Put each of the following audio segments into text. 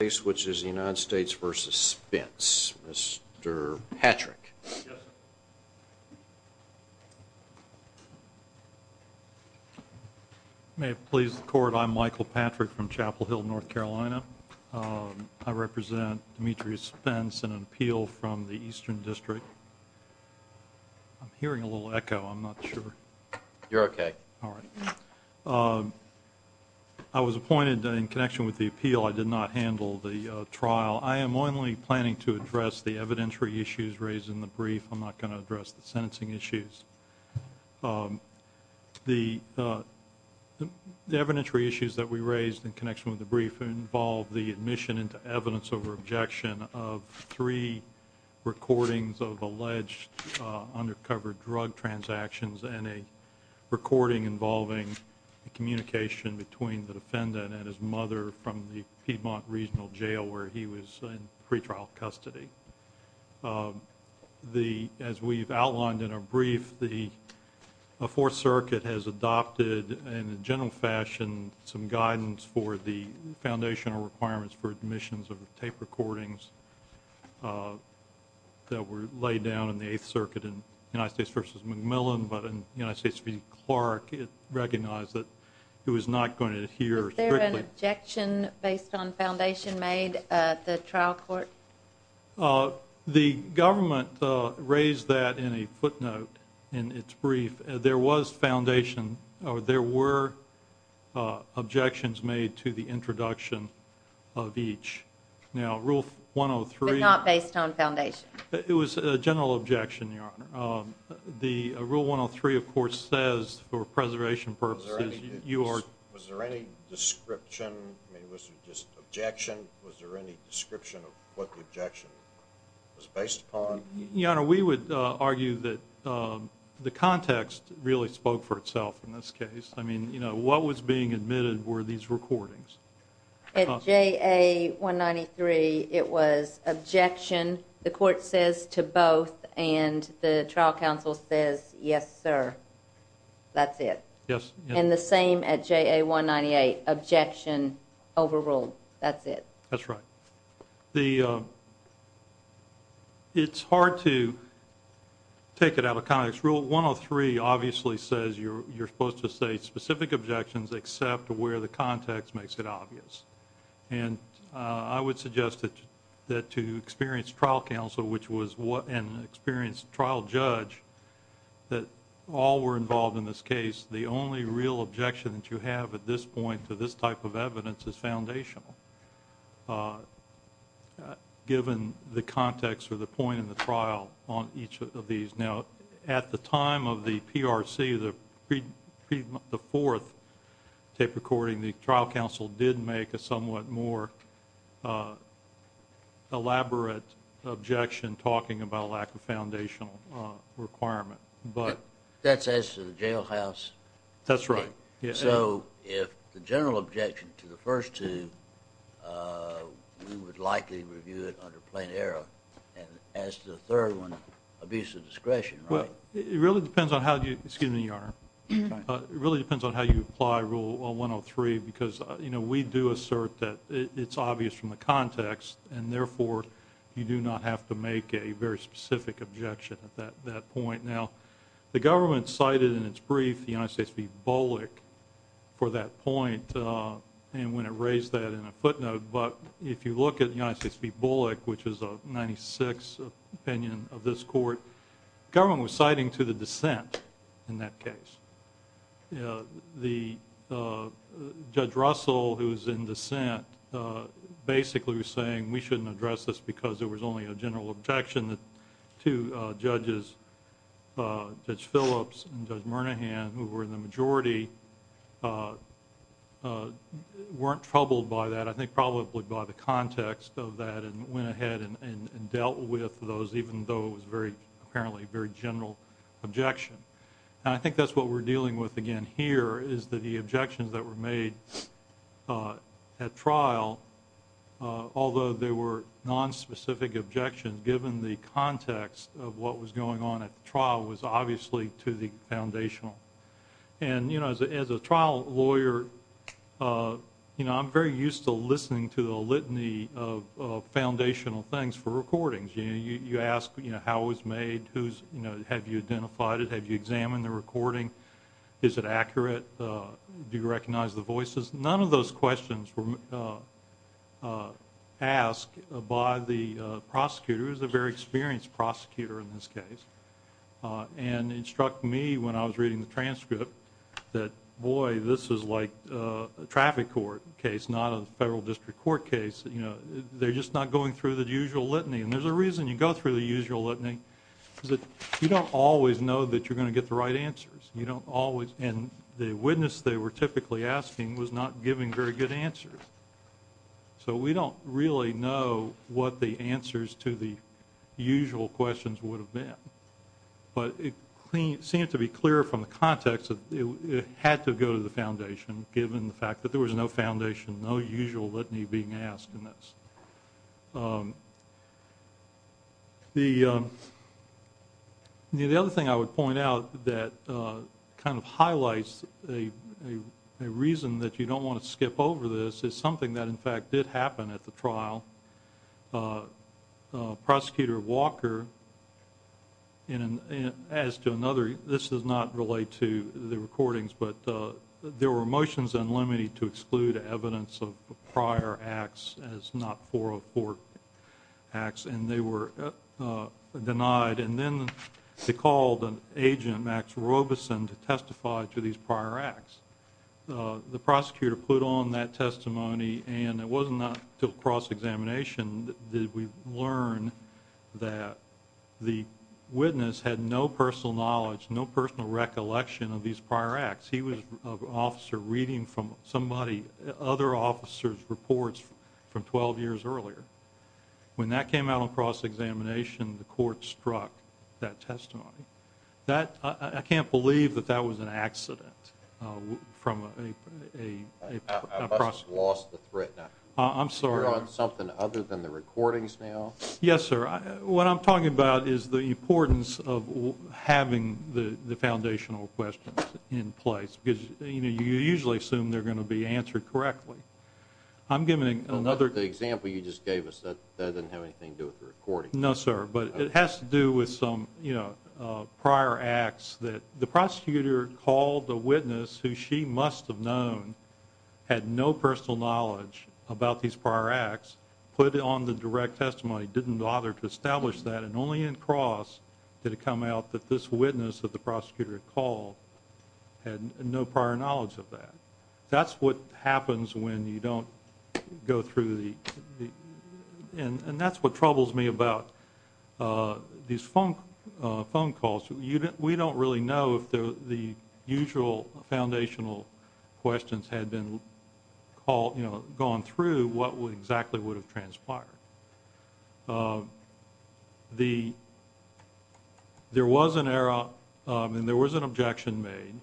States v. Spence. Mr. Patrick. May it please the Court, I'm Michael Patrick from Chapel Hill, North Carolina. I represent Demetrius Spence in an appeal from the Eastern District. I'm hearing a little echo. I'm not sure. You're okay. All right. I was appointed in connection with the appeal. I did not handle the trial. I am only planning to address the evidentiary issues raised in the brief. I'm not going to address the sentencing issues. The evidentiary issues that we raised in connection with the brief involved the admission into evidence over objection of three recordings of alleged undercover drug transactions and a recording involving communication between the defendant and his mother from the Piedmont Regional Jail where he was in pretrial custody. As we've outlined in our brief, the Fourth Circuit has adopted, in a general fashion, some guidance for the foundational requirements for admissions of tape recordings that were laid down in the Eighth Circuit in United States v. McMillan, but in United States v. Clark, it recognized that it was not going to adhere strictly. Was there an objection based on foundation made at the trial court? The government raised that in a footnote in its brief. There was foundation, or there were objections made to the introduction of each. Now, Rule 103... But not based on foundation. It was a general objection, Your Honor. Rule 103, of course, says, for preservation purposes... Was there any description? I mean, was it just objection? Was there any description of what the objection was based upon? Your Honor, we would argue that the context really spoke for itself in this case. I mean, what was being admitted were these recordings. At JA193, it was objection, the court says to both, and the trial counsel says, yes, sir. That's it. And the same at JA198, objection overruled. That's it. That's right. It's hard to take it out of context. Rule 103 obviously says you're supposed to say specific objections except where the context makes it obvious. And I would suggest that to experienced trial counsel, which was an experienced trial judge, that all were involved in this case, the only real objection that you have at this point to this type of objection, given the context or the point in the trial on each of these. Now, at the time of the PRC, the fourth tape recording, the trial counsel did make a somewhat more elaborate objection talking about lack of foundational requirement. That's as to the jailhouse? That's right. So if the general objection to the first two, we would likely review it under plain error. As to the third one, abuse of discretion, right? It really depends on how you apply Rule 103, because we do assert that it's obvious from the context, and therefore you do not have to make a very specific objection at that point. And when it raised that in a footnote, but if you look at United States v. Bullock, which is a 96 opinion of this court, the government was citing to the dissent in that case. The Judge Russell, who was in dissent, basically was saying we shouldn't address this because there was only a general objection that two judges, Judge Phillips and Judge Murnaghan, who were in the majority, weren't troubled by that, I think probably by the context of that and went ahead and dealt with those, even though it was apparently a very general objection. I think that's what we're dealing with again here, is that the objections that were made at trial, although they were nonspecific objections, given the context of what was going on at trial. And as a trial lawyer, I'm very used to listening to the litany of foundational things for recordings. You ask how it was made, have you identified it, have you examined the recording, is it accurate, do you recognize the voices? None of those questions were asked by the prosecutor, who was a very experienced prosecutor in this case, and it struck me when I was reading the transcript that, boy, this is like a traffic court case, not a federal district court case. They're just not going through the usual litany. And there's a reason you go through the usual litany, is that you don't always know that you're going to get the right answers. And the witness they were typically asking was not giving very good answers. So we don't really know what the answers to the usual questions would have been. But it seemed to be clear from the context that it had to go to the foundation, given the fact that there was no foundation, no usual litany being asked in this. The other thing I would point out that kind of highlights a reason that you don't want to skip over this is something that in fact did happen at the trial. Prosecutor Walker and as to another, this does not relate to the recordings, but there were motions unlimited to exclude evidence of prior acts as not 404 acts, and they were denied. And then they called an agent, Max Robeson, to testify to these prior acts. The prosecutor put on that testimony, and it wasn't until cross-examination that we learned that the witness had no personal knowledge, no personal recollection of these prior acts. He was an officer reading from somebody, other officers' reports from 12 years earlier. When that came out on cross-examination, the court struck that testimony. I can't believe that that was an accident from a prosecutor. I must have lost the thread. I'm sorry. You're on something other than the recordings now? Yes, sir. What I'm talking about is the importance of having the foundational questions in place, because you usually assume they're going to be answered correctly. I'm giving another... The example you just gave us, that doesn't have anything to do with the recordings. No, sir, but it has to do with some prior acts that the prosecutor called the witness who she must have known had no personal knowledge about these prior acts, put it on the direct testimony, didn't bother to establish that, and only in cross did it come out that this witness that the prosecutor had called had no prior knowledge of that. That's what happens when you don't go through the... That's what troubles me about these phone calls. We don't really know if the usual foundational questions had gone through, what exactly would have transpired. There was an error, and there was an objection made.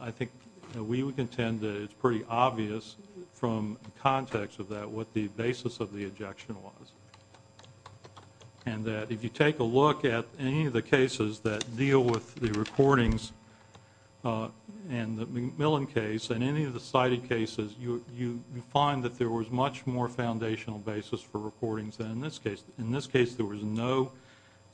I think we would contend that it's pretty obvious from context of that what the basis of the objection was, and that if you take a look at any of the cases that cited cases, you find that there was much more foundational basis for recordings than in this case. In this case, there was no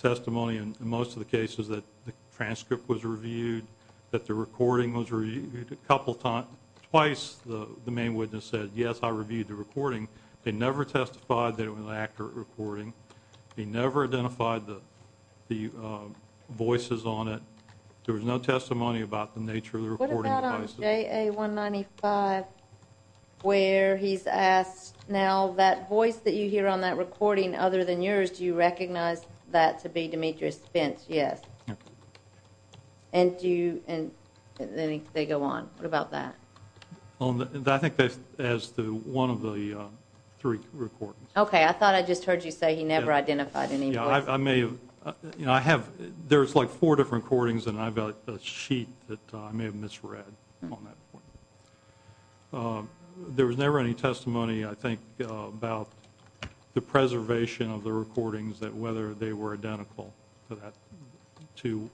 testimony in most of the cases that the transcript was reviewed, that the recording was reviewed a couple times. Twice, the main witness said, yes, I reviewed the recording. They never testified that it was an accurate recording. They never identified the voices on it. There was no testimony about the nature of the recording Is that on JA 195 where he's asked, now that voice that you hear on that recording other than yours, do you recognize that to be Demetrius Spence? Yes. And then they go on. What about that? I think that's one of the three recordings. Okay, I thought I just heard you say he never identified any voices. There's like four different recordings, and I've got a sheet that I may have read on that. There was never any testimony, I think, about the preservation of the recordings, that whether they were identical to that, to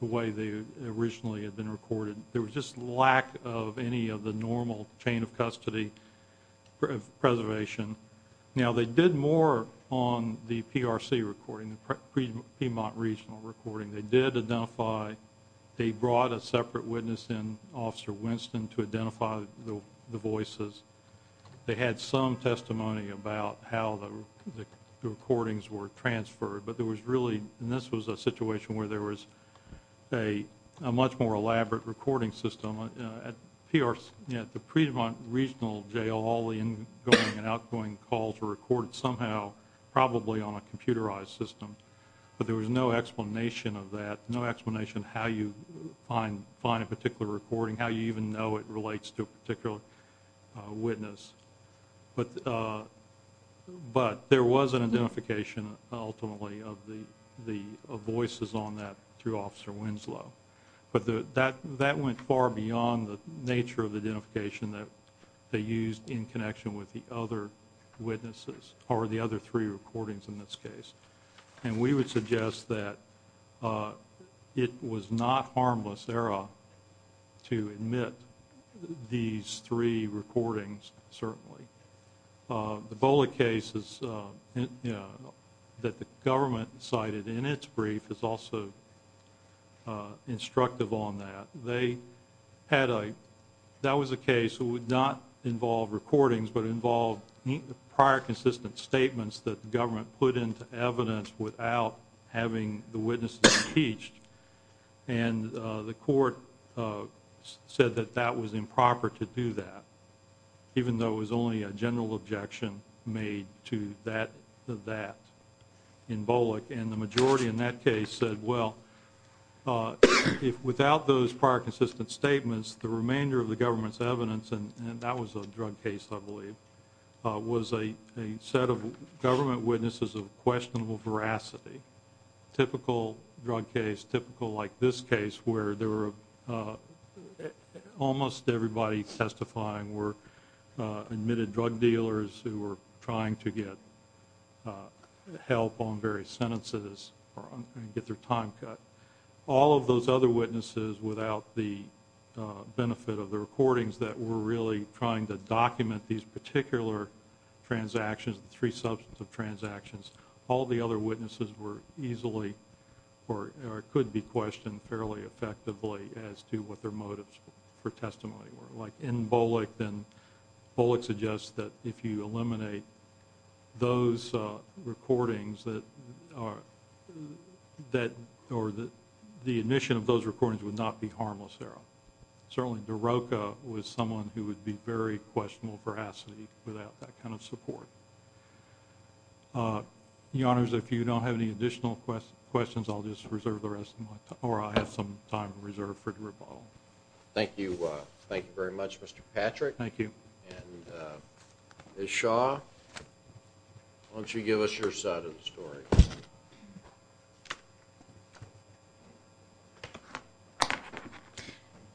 the way they originally had been recorded. There was just lack of any of the normal chain of custody preservation. Now, they did more on the PRC recording, the Piedmont Regional recording. They did identify, they brought a separate witness in, Officer Winston, to identify the voices. They had some testimony about how the recordings were transferred, but there was really, and this was a situation where there was a much more elaborate recording system. At PRC, at the Piedmont Regional Jail, all the in-going and out-going calls were recorded somehow, probably on a computerized system. But there was no explanation of that, no explanation how you find a particular recording, how you even know it relates to a particular witness. But there was an identification, ultimately, of voices on that through Officer Winslow. But that went far beyond the nature of the identification that they used in connection with the other witnesses, or the other three recordings in this case. And we would suggest that it was not harmless, ERA, to admit these three recordings, certainly. The Bola case that the government cited in its brief is also instructive on that. They had a, that was a case that would not involve recordings, but involved prior consistent statements that the government put into evidence without having the witnesses impeached. And the court said that that was improper to do that, even though it was only a general objection made to that, in Bola. And the majority in that case said, well, if without those prior consistent statements, the remainder of the government's evidence, and that was a drug case, I believe, was a set of government witnesses of questionable veracity. Typical drug case, typical like this case, where there were, almost everybody testifying were admitted drug dealers who were trying to get help on various sentences or get their time cut. All of those other witnesses, without the benefit of the recordings that were really trying to document these particular transactions, the three substance of transactions, all the other witnesses were easily, or could be questioned fairly effectively as to what their motives for testimony were. Like in BOLIC, then BOLIC suggests that if you eliminate those recordings that, or that the admission of those recordings would not be harmless there. Certainly, DeRocca was someone who would be very questionable veracity without that kind of support. Your Honors, if you don't have any additional questions, I'll just reserve the rest of my time, or I have some time reserved for the rebuttal. Thank you. Thank you very much, Mr. Patrick. Thank you. And Ms. Shaw, why don't you give us your side of the story?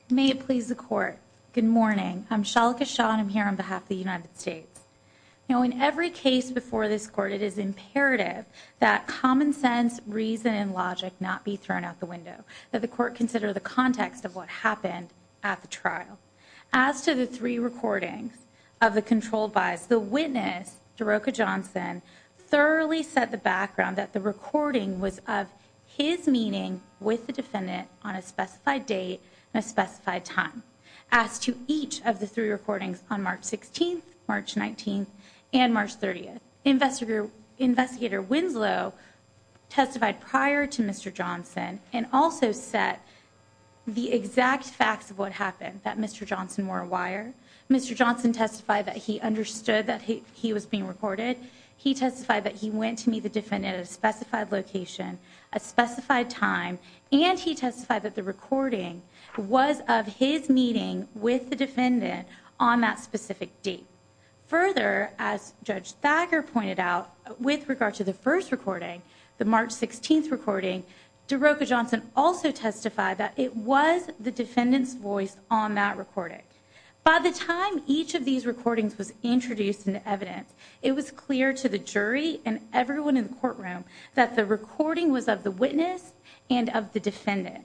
May it please the Court, good morning. I'm Shalika Shaw, and I'm here on behalf of the United States. Now, in every case before this Court, it is imperative that common sense, reason, and logic not be thrown out the window, that the Court consider the context of what happened at the trial. As to the three recordings of the controlled bias, the witness, DeRocca Johnson, thoroughly set the background that the recording was of his meeting with the defendant on a specified date and a specified time. As to each of the three recordings on March 16th, March 19th, and March 30th, Investigator Winslow testified prior to Mr. Johnson, and also set the exact facts of what happened that Mr. Johnson wore a wire. Mr. Johnson testified that he understood that he was being recorded. He testified that he went to meet the defendant at a specified location, a specified time, and he testified that the recording was of his meeting with the defendant on that specific date. Further, as Judge Thacker pointed out, with regard to the first recording, the defendant's voice on that recording. By the time each of these recordings was introduced into evidence, it was clear to the jury and everyone in the courtroom that the recording was of the witness and of the defendant.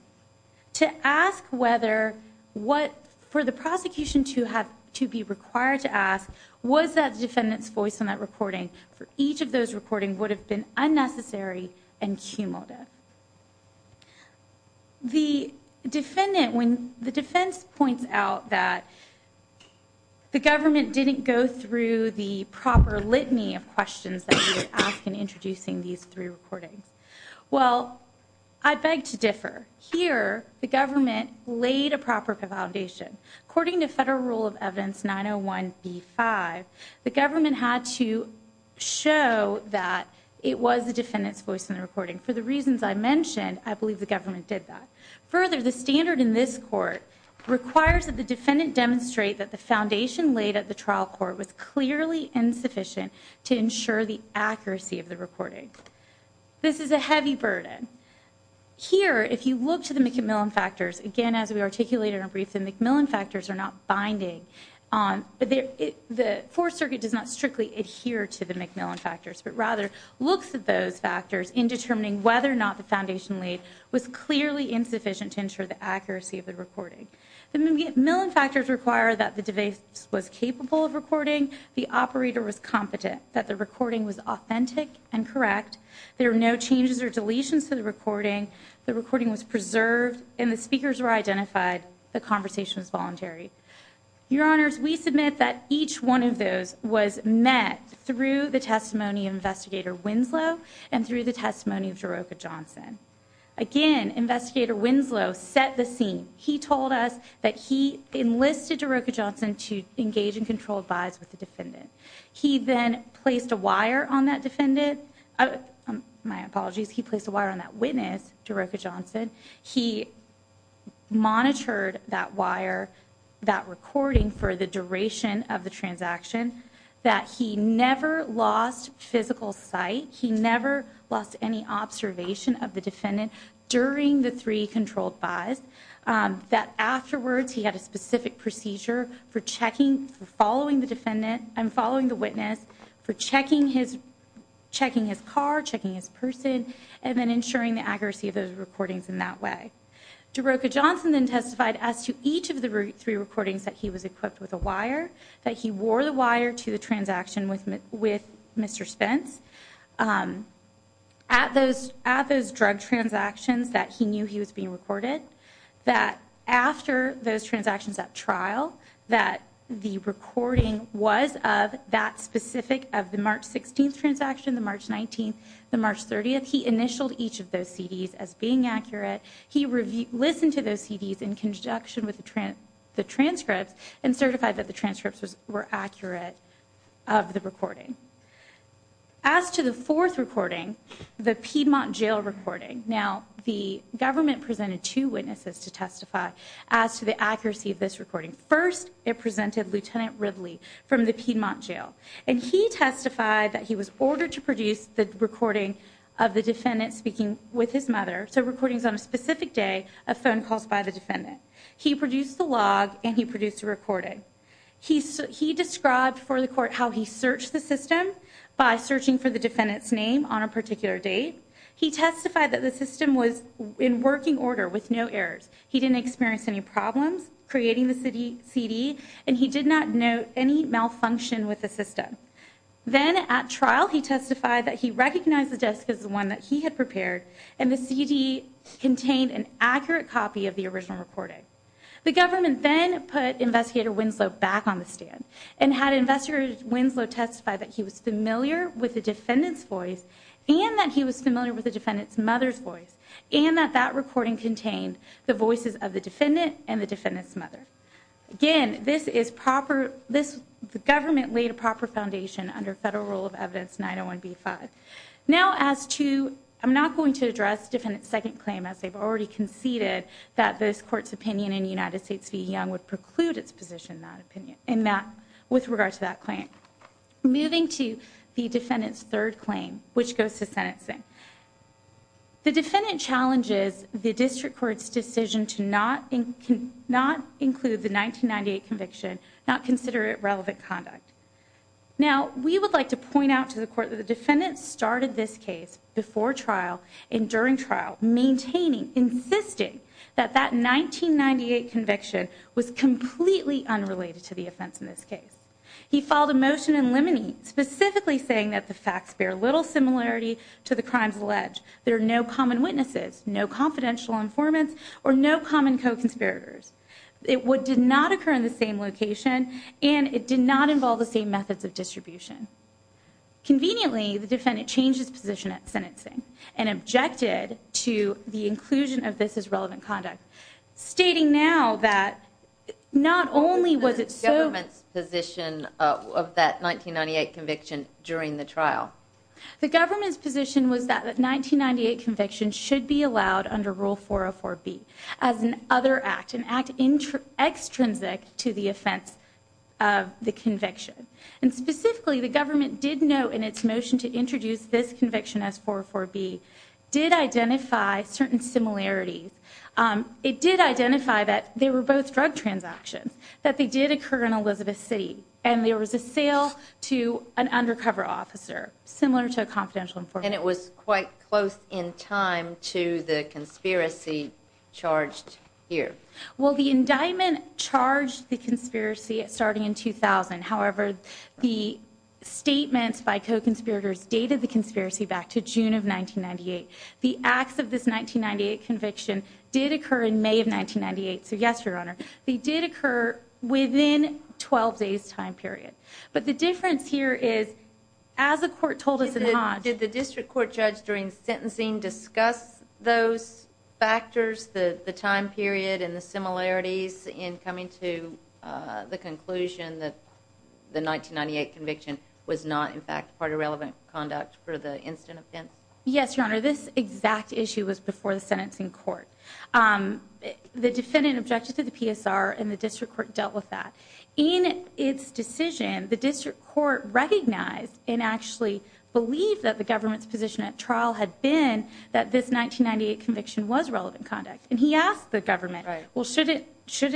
To ask whether, for the prosecution to be required to ask, was that defendant's voice on that recording for each of those recordings would have been unnecessary and cumulative. The defendant, when the defense points out that the government didn't go through the proper litany of questions that we would ask in introducing these three recordings. Well, I beg to differ. Here, the government laid a proper foundation. According to Federal Rule of Evidence 901B5, the government had to show that it was the defendant's voice in the recording. For the reasons I mentioned, I believe the government did that. Further, the standard in this court requires that the defendant demonstrate that the foundation laid at the trial court was clearly insufficient to ensure the accuracy of the recording. This is a heavy burden. Here, if you look to the MacMillan factors, again, as we articulated in our brief, the MacMillan factors are not binding. The Fourth Circuit does not strictly adhere to the MacMillan factors, but rather looks at those factors in determining whether or not the foundation laid was clearly insufficient to ensure the accuracy of the recording. The MacMillan factors require that the defense was capable of recording, the operator was competent, that the recording was authentic and correct, there were no changes or deletions to the recording, the recording was preserved, and the speakers were identified. The conversation was voluntary. Your Honors, we submit that each one of those was met through the testimony of Investigator Winslow and through the testimony of Daroka Johnson. Again, Investigator Winslow set the scene. He told us that he enlisted Daroka Johnson to engage in controlled buys with the defendant. He then placed a wire on that defendant, my apologies, he placed a wire on that witness, Daroka Johnson. He monitored that wire, that recording for the duration of the transaction, that he never lost physical sight, he never lost any observation of the defendant during the three controlled buys, that afterwards he had a specific procedure for checking, for following the defendant and following the witness for checking his car, checking his person, and then ensuring the accuracy of those recordings in that way. Daroka Johnson then testified as to each of the three recordings that he was equipped with a wire, that he wore the wire to the transaction with Mr. Spence. At those drug transactions that he knew he was being recorded, that after those transactions at trial, that the recording was of that specific of the March 16th transaction, the March 19th, the March 30th, he initialed each of those CDs as being accurate. He listened to those CDs in conjunction with the transcripts and certified that the transcripts were accurate of the recording. As to the fourth recording, the Piedmont Jail recording, now the government presented two witnesses to testify as to the accuracy of this recording. First, it presented Lieutenant Ridley from the Piedmont Jail, and he testified that he was ordered to produce the recording of the defendant speaking with his mother, so recordings on a specific day of phone calls by the defendant. He produced the log, and he produced the recording. He described for the court how he searched the system by searching for the defendant's name on a particular date. He testified that the system was in working order with no errors. He didn't experience any problems creating the CD, and he did not note any malfunction with the system. Then at trial, he testified that he recognized the disc as the one that he had prepared, and the CD contained an accurate copy of the original recording. The government then put Investigator Winslow back on the stand, and had Investigator Winslow testify that he was familiar with the defendant's voice, and that he was familiar with the defendant's mother's voice, and that that recording contained the voices of the defendant and the defendant's mother. Again, this is proper, this, the government laid a proper foundation under Federal Rule of Evidence 901B5. Now, as to, I'm not going to address the defendant's second claim, as they've already conceded that this Court's opinion in United States v. Young would preclude its position in that opinion, in that, with regard to that claim. Moving to the defendant's third claim, which goes to sentencing. The defendant challenges the District Court's decision to not include the 1998 conviction, not consider it relevant conduct. Now, we would like to point out to the Court that the defendant started this case before trial, and during trial, maintaining, insisting that that 1998 conviction was completely unrelated to the offense in this case. He filed a motion in limine, specifically saying that the facts bear little similarity to the crimes alleged. There are no common witnesses, no confidential informants, or no common co-conspirators. It did not occur in the same location, and it did not involve the same methods of distribution. Conveniently, the defendant changed his position at sentencing, and objected to the inclusion of this as relevant conduct. Stating now that not only was it so... What was the government's position of that 1998 conviction during the trial? The government's position was that that 1998 conviction should be allowed under Rule 404B as an other act, an act extrinsic to the offense of the conviction. And specifically, the government did note in its motion to introduce this conviction as 404B, did identify certain similarities. It did identify that they were both drug transactions, that they did occur in Elizabeth City, and there was a sale to an undercover officer, similar to a confidential informant. And it was quite close in time to the conspiracy charged here. Well, the indictment charged the conspiracy starting in 2000. However, the statements by co-conspirators dated the conspiracy back to June of 1998. The acts of this 1998 conviction did occur in May of 1998, so yes, Your Honor. They did occur within 12 days' time period. But the difference here is, as the court told us in Hodge... Did the district court judge during sentencing discuss those factors, the time period and the similarities in coming to the conclusion that the 1998 conviction was not, in fact, part of relevant conduct for the incident offense? Yes, Your Honor. This exact issue was before the sentencing court. The defendant objected to the PSR, and the district court dealt with that. In its decision, the district court recognized and actually believed that the government's position at trial had been that this 1998 conviction was relevant conduct. And he asked the government, well, shouldn't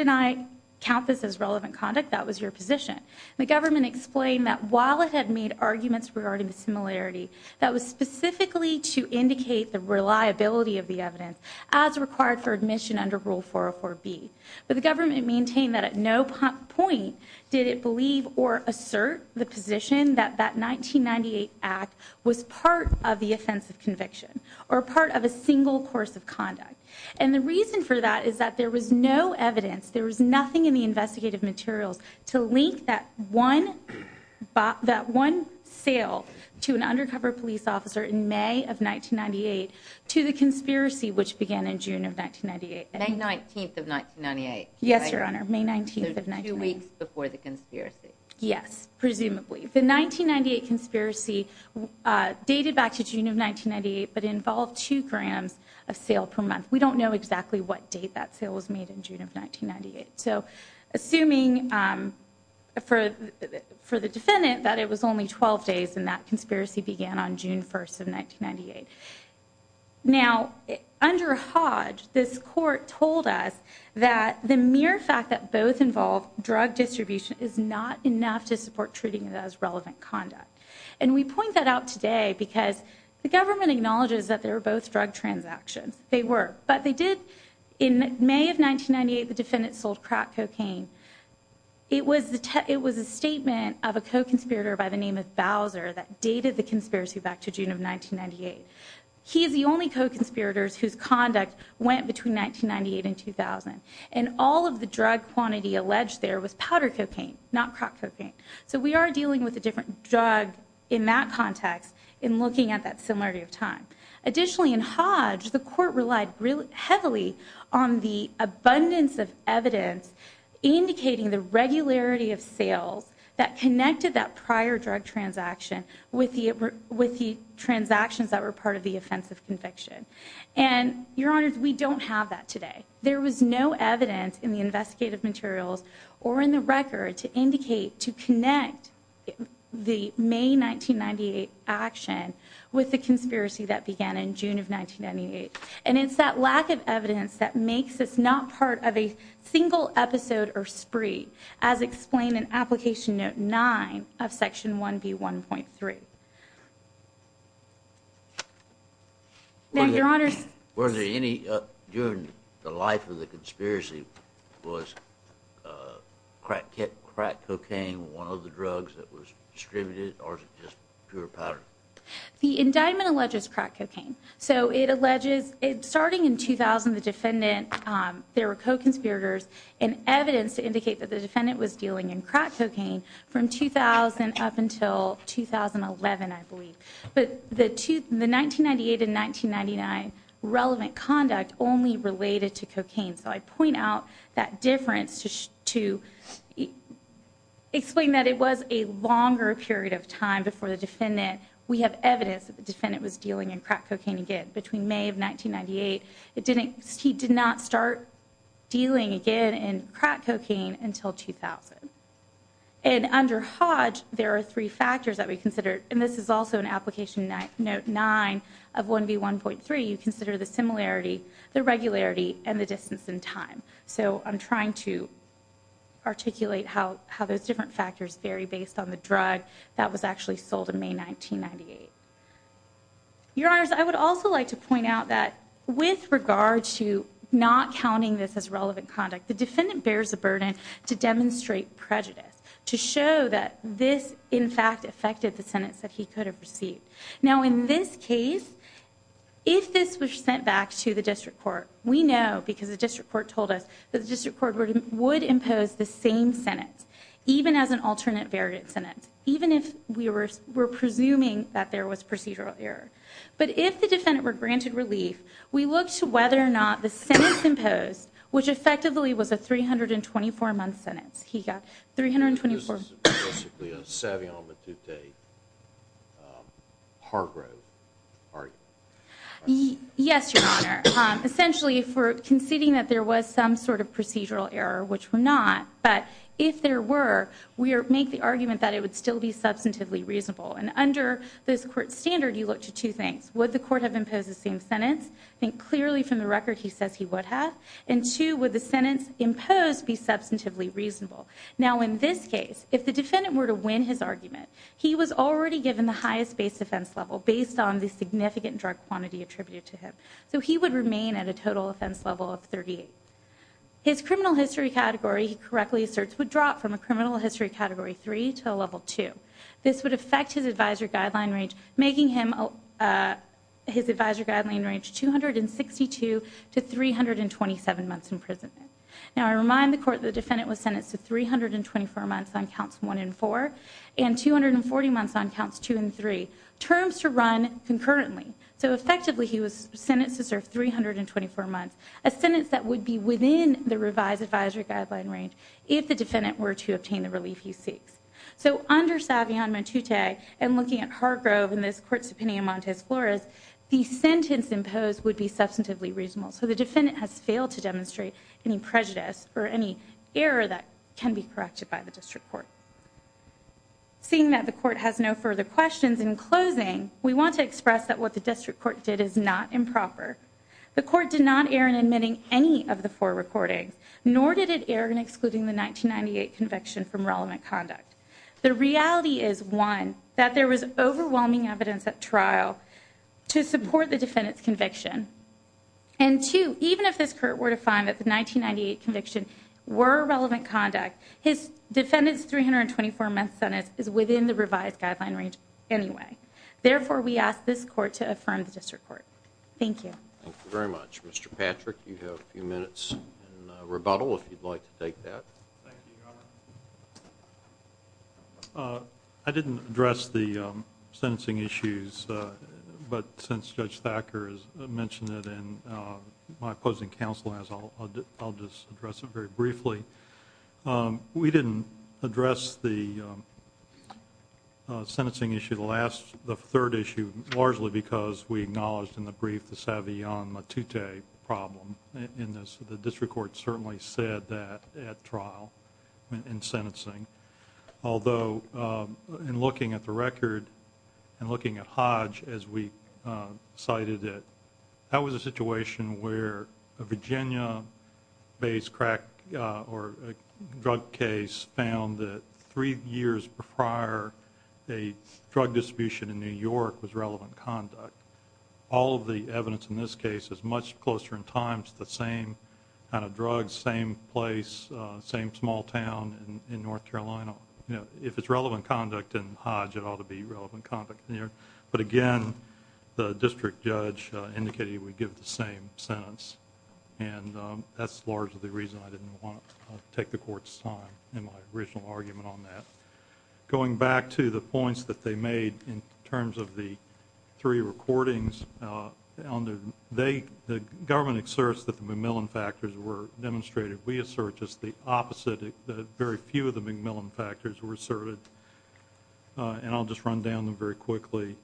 I count this as relevant conduct? That was your position. The government explained that while it had made arguments regarding the similarity, that was specifically to indicate the reliability of the evidence as required for admission under Rule 404B. But the government maintained that at no point did it believe or assert the position that that 1998 act was part of the offensive conviction, or part of a single course of conduct. And the reason for that is that there was no evidence, there was nothing in the investigative materials to link that one sale to an undercover police officer in May of 1998 to the conspiracy which began in June of 1998. May 19th of 1998? Yes, Your Honor. May 19th of 1998. So two weeks before the conspiracy? Yes, presumably. The 1998 conspiracy dated back to June of 1998, but involved two grams of sale per month. We don't know exactly what date that sale was made in June of 1998. So assuming for the defendant that it was only 12 days and that conspiracy began on June 1st of 1998. Now, under Hodge, this court told us that the mere fact that both involve drug distribution is not enough to support treating it as relevant conduct. And we point that out today because the government acknowledges that they were both drug transactions. They were. But they did, in May of 1998, the defendant sold crack cocaine. It was a statement of a co-conspirator by the name of Bowser that dated the conspiracy back to June of 1998. He is the only co-conspirator whose conduct went between 1998 and 2000. And all of the drug quantity alleged there was powder cocaine, not crack cocaine. So we are dealing with a different drug in that context in looking at that similarity of time. Additionally, in Hodge, the court relied heavily on the abundance of evidence indicating the regularity of sales that connected that prior drug transaction with the transactions that were part of the offensive conviction. And, Your Honors, we don't have that today. There was no evidence in the investigative materials or in the record to indicate, to connect the May 1998 action with the conspiracy that began in June of 1998. And it's that lack of evidence that we see in Application Note 9 of Section 1B1.3. Were there any, during the life of the conspiracy, was crack cocaine one of the drugs that was distributed, or was it just pure powder? The indictment alleges crack cocaine. So it alleges, starting in 2000, the defendant, there were co-conspirators and evidence to indicate that the defendant was dealing in crack cocaine from 2000 up until 2011, I believe. But the 1998 and 1999 relevant conduct only related to cocaine. So I point out that difference to explain that it was a longer period of time before the defendant. We have evidence that the defendant was dealing in crack cocaine in 1998. He did not start dealing again in crack cocaine until 2000. And under Hodge, there are three factors that we consider, and this is also in Application Note 9 of 1B1.3, you consider the similarity, the regularity, and the distance in time. So I'm trying to articulate how those different factors vary based on the drug that was actually sold in May 1998. Your Honors, I would also like to point out that with regard to not counting this as relevant conduct, the defendant bears a burden to demonstrate prejudice, to show that this, in fact, affected the sentence that he could have received. Now, in this case, if this was sent back to the District Court, we know because the District Court told us that the District Court would impose the same sentence, even as an alternate variant sentence, even if we were presuming that there was procedural error. But if the defendant were granted relief, we looked to whether or not the sentence imposed, which effectively was a 324-month sentence. He got 324... This is basically a Savion Matute Hargrove argument. Yes, Your Honor. Essentially, if we're conceding that there was some sort of procedural error, which we're not, but if there were, we make the argument that it would still be substantively reasonable. And under this Court standard, you look to two things. Would the Court have imposed the same sentence? Think clearly from the record he says he would have. And two, would the sentence imposed be substantively reasonable? Now, in this case, if the defendant were to win his argument, he was already given the highest base offense level based on the significant drug quantity attributed to him. So he would remain at a total offense level of 38. His criminal history category, he correctly asserts, would drop from a criminal history category 3 to a level 2. This would affect his advisory guideline range, making his advisory guideline range 262 to 327 months in prison. Now, I remind the Court the defendant was sentenced to 324 months on counts 1 and 4, and 240 months on counts 2 and 3. Terms to run concurrently. So effectively, he was sentenced to serve 324 months. A sentence that would be within the revised advisory guideline range if the defendant were to obtain the relief he seeks. So under Savion Motute and looking at Hargrove and this Court subpoena Montez Flores, the sentence imposed would be substantively reasonable. So the defendant has failed to demonstrate any prejudice or any error that can be corrected by the District Court. Seeing that the Court has no further questions, in closing, we want to express that what the District Court did is not improper. The Court did not err in admitting any of the four recordings, nor did it err in excluding the 1998 conviction from relevant conduct. The reality is, one, that there was overwhelming evidence at trial to support the defendant's conviction. And two, even if this Court were to find that the 1998 conviction were relevant conduct, his defendant's 324-month sentence is within the revised guideline range anyway. Therefore, we ask this Court to affirm the District Court. Thank you. Thank you very much. Mr. Patrick, you have a few minutes in rebuttal, if you'd like to take that. Thank you, Your Honor. I didn't address the sentencing issues, but since Judge Thacker has mentioned it and my opposing counsel has, I'll just address it very briefly. We didn't address the sentencing issue, the third issue, largely because we acknowledged in the brief the Savion Motute problem. The District Court certainly said that at trial, in sentencing. Although, in looking at the record and looking at Hodge, as we cited it, that was a situation where a Virginia-based crack or drug case found that three years prior, a drug distribution in New York was relevant conduct. All of the evidence in this case is much closer in time to the same kind of drugs, same place, same small town in North Carolina. If it's relevant conduct in Hodge, it ought to be relevant conduct in New York. But again, the District Judge indicated he would give the same sentence. And that's largely the reason I didn't want to take the Court's time in my original argument on that. Going back to the points that they made in terms of the three recordings, the government asserts that the MacMillan factors were demonstrated. We assert just the opposite, that very few of the MacMillan factors were asserted. And I'll just run down them very quickly.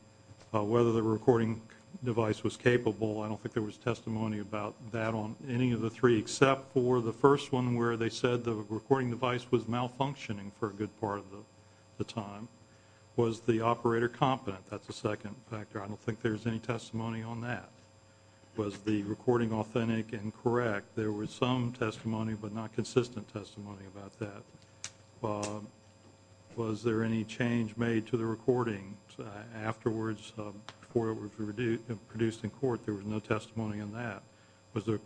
Whether the recording device was capable, I don't think there was testimony about that on any of the three, except for the first one where they said the recording device was malfunctioning for a good part of the time. Was the operator competent? That's the second factor. I don't think there's any testimony on that. Was the recording authentic and correct? There was some testimony but not consistent testimony about that. Was there any change made to the recording afterwards before it was produced in court? There was no testimony on that. Was the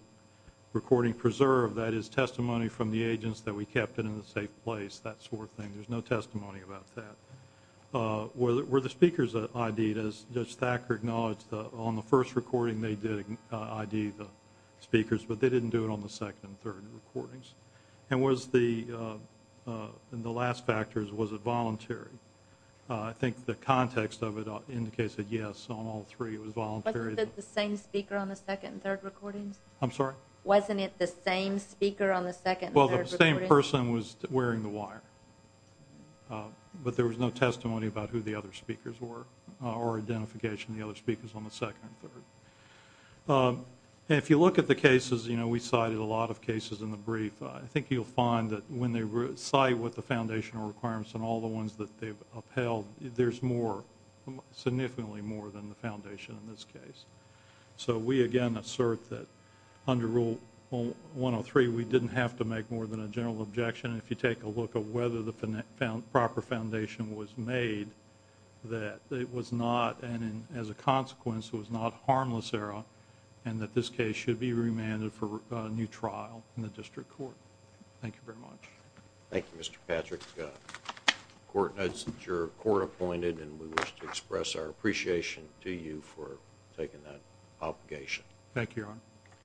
recording preserved? That is testimony from the agents that we kept it in a safe place, that sort of thing. There's no testimony about that. Were the speakers ID'd? As Judge Thacker acknowledged, on the first recording they did ID the speakers, but they didn't do it on the second and third recordings. And was the last factor, was it voluntary? I think the context of it indicates that, yes, on all three it was voluntary. Wasn't it the same speaker on the second and third recordings? I'm sorry? Wasn't it the same speaker on the second and third recordings? Well, the same person was wearing the wire, but there was no testimony about who the other speakers were or identification of the other speakers on the second and third. If you look at the cases, you know, we cited a lot of cases in the brief. I think you'll find that when they cite what the foundational requirements and all the ones that they've upheld, there's more, significantly more than the foundation in this case. So we, again, assert that under Rule 103, we didn't have to make more than a general objection. If you take a look at whether the proper foundation was made, that it was not, and as a consequence, it was not harmless error and that this case should be remanded for a new trial in the district court. Thank you very much. Thank you, Mr. Patrick. The court notes that your court appointed, and we wish to express our appreciation to you for taking that obligation. Thank you, Your Honor.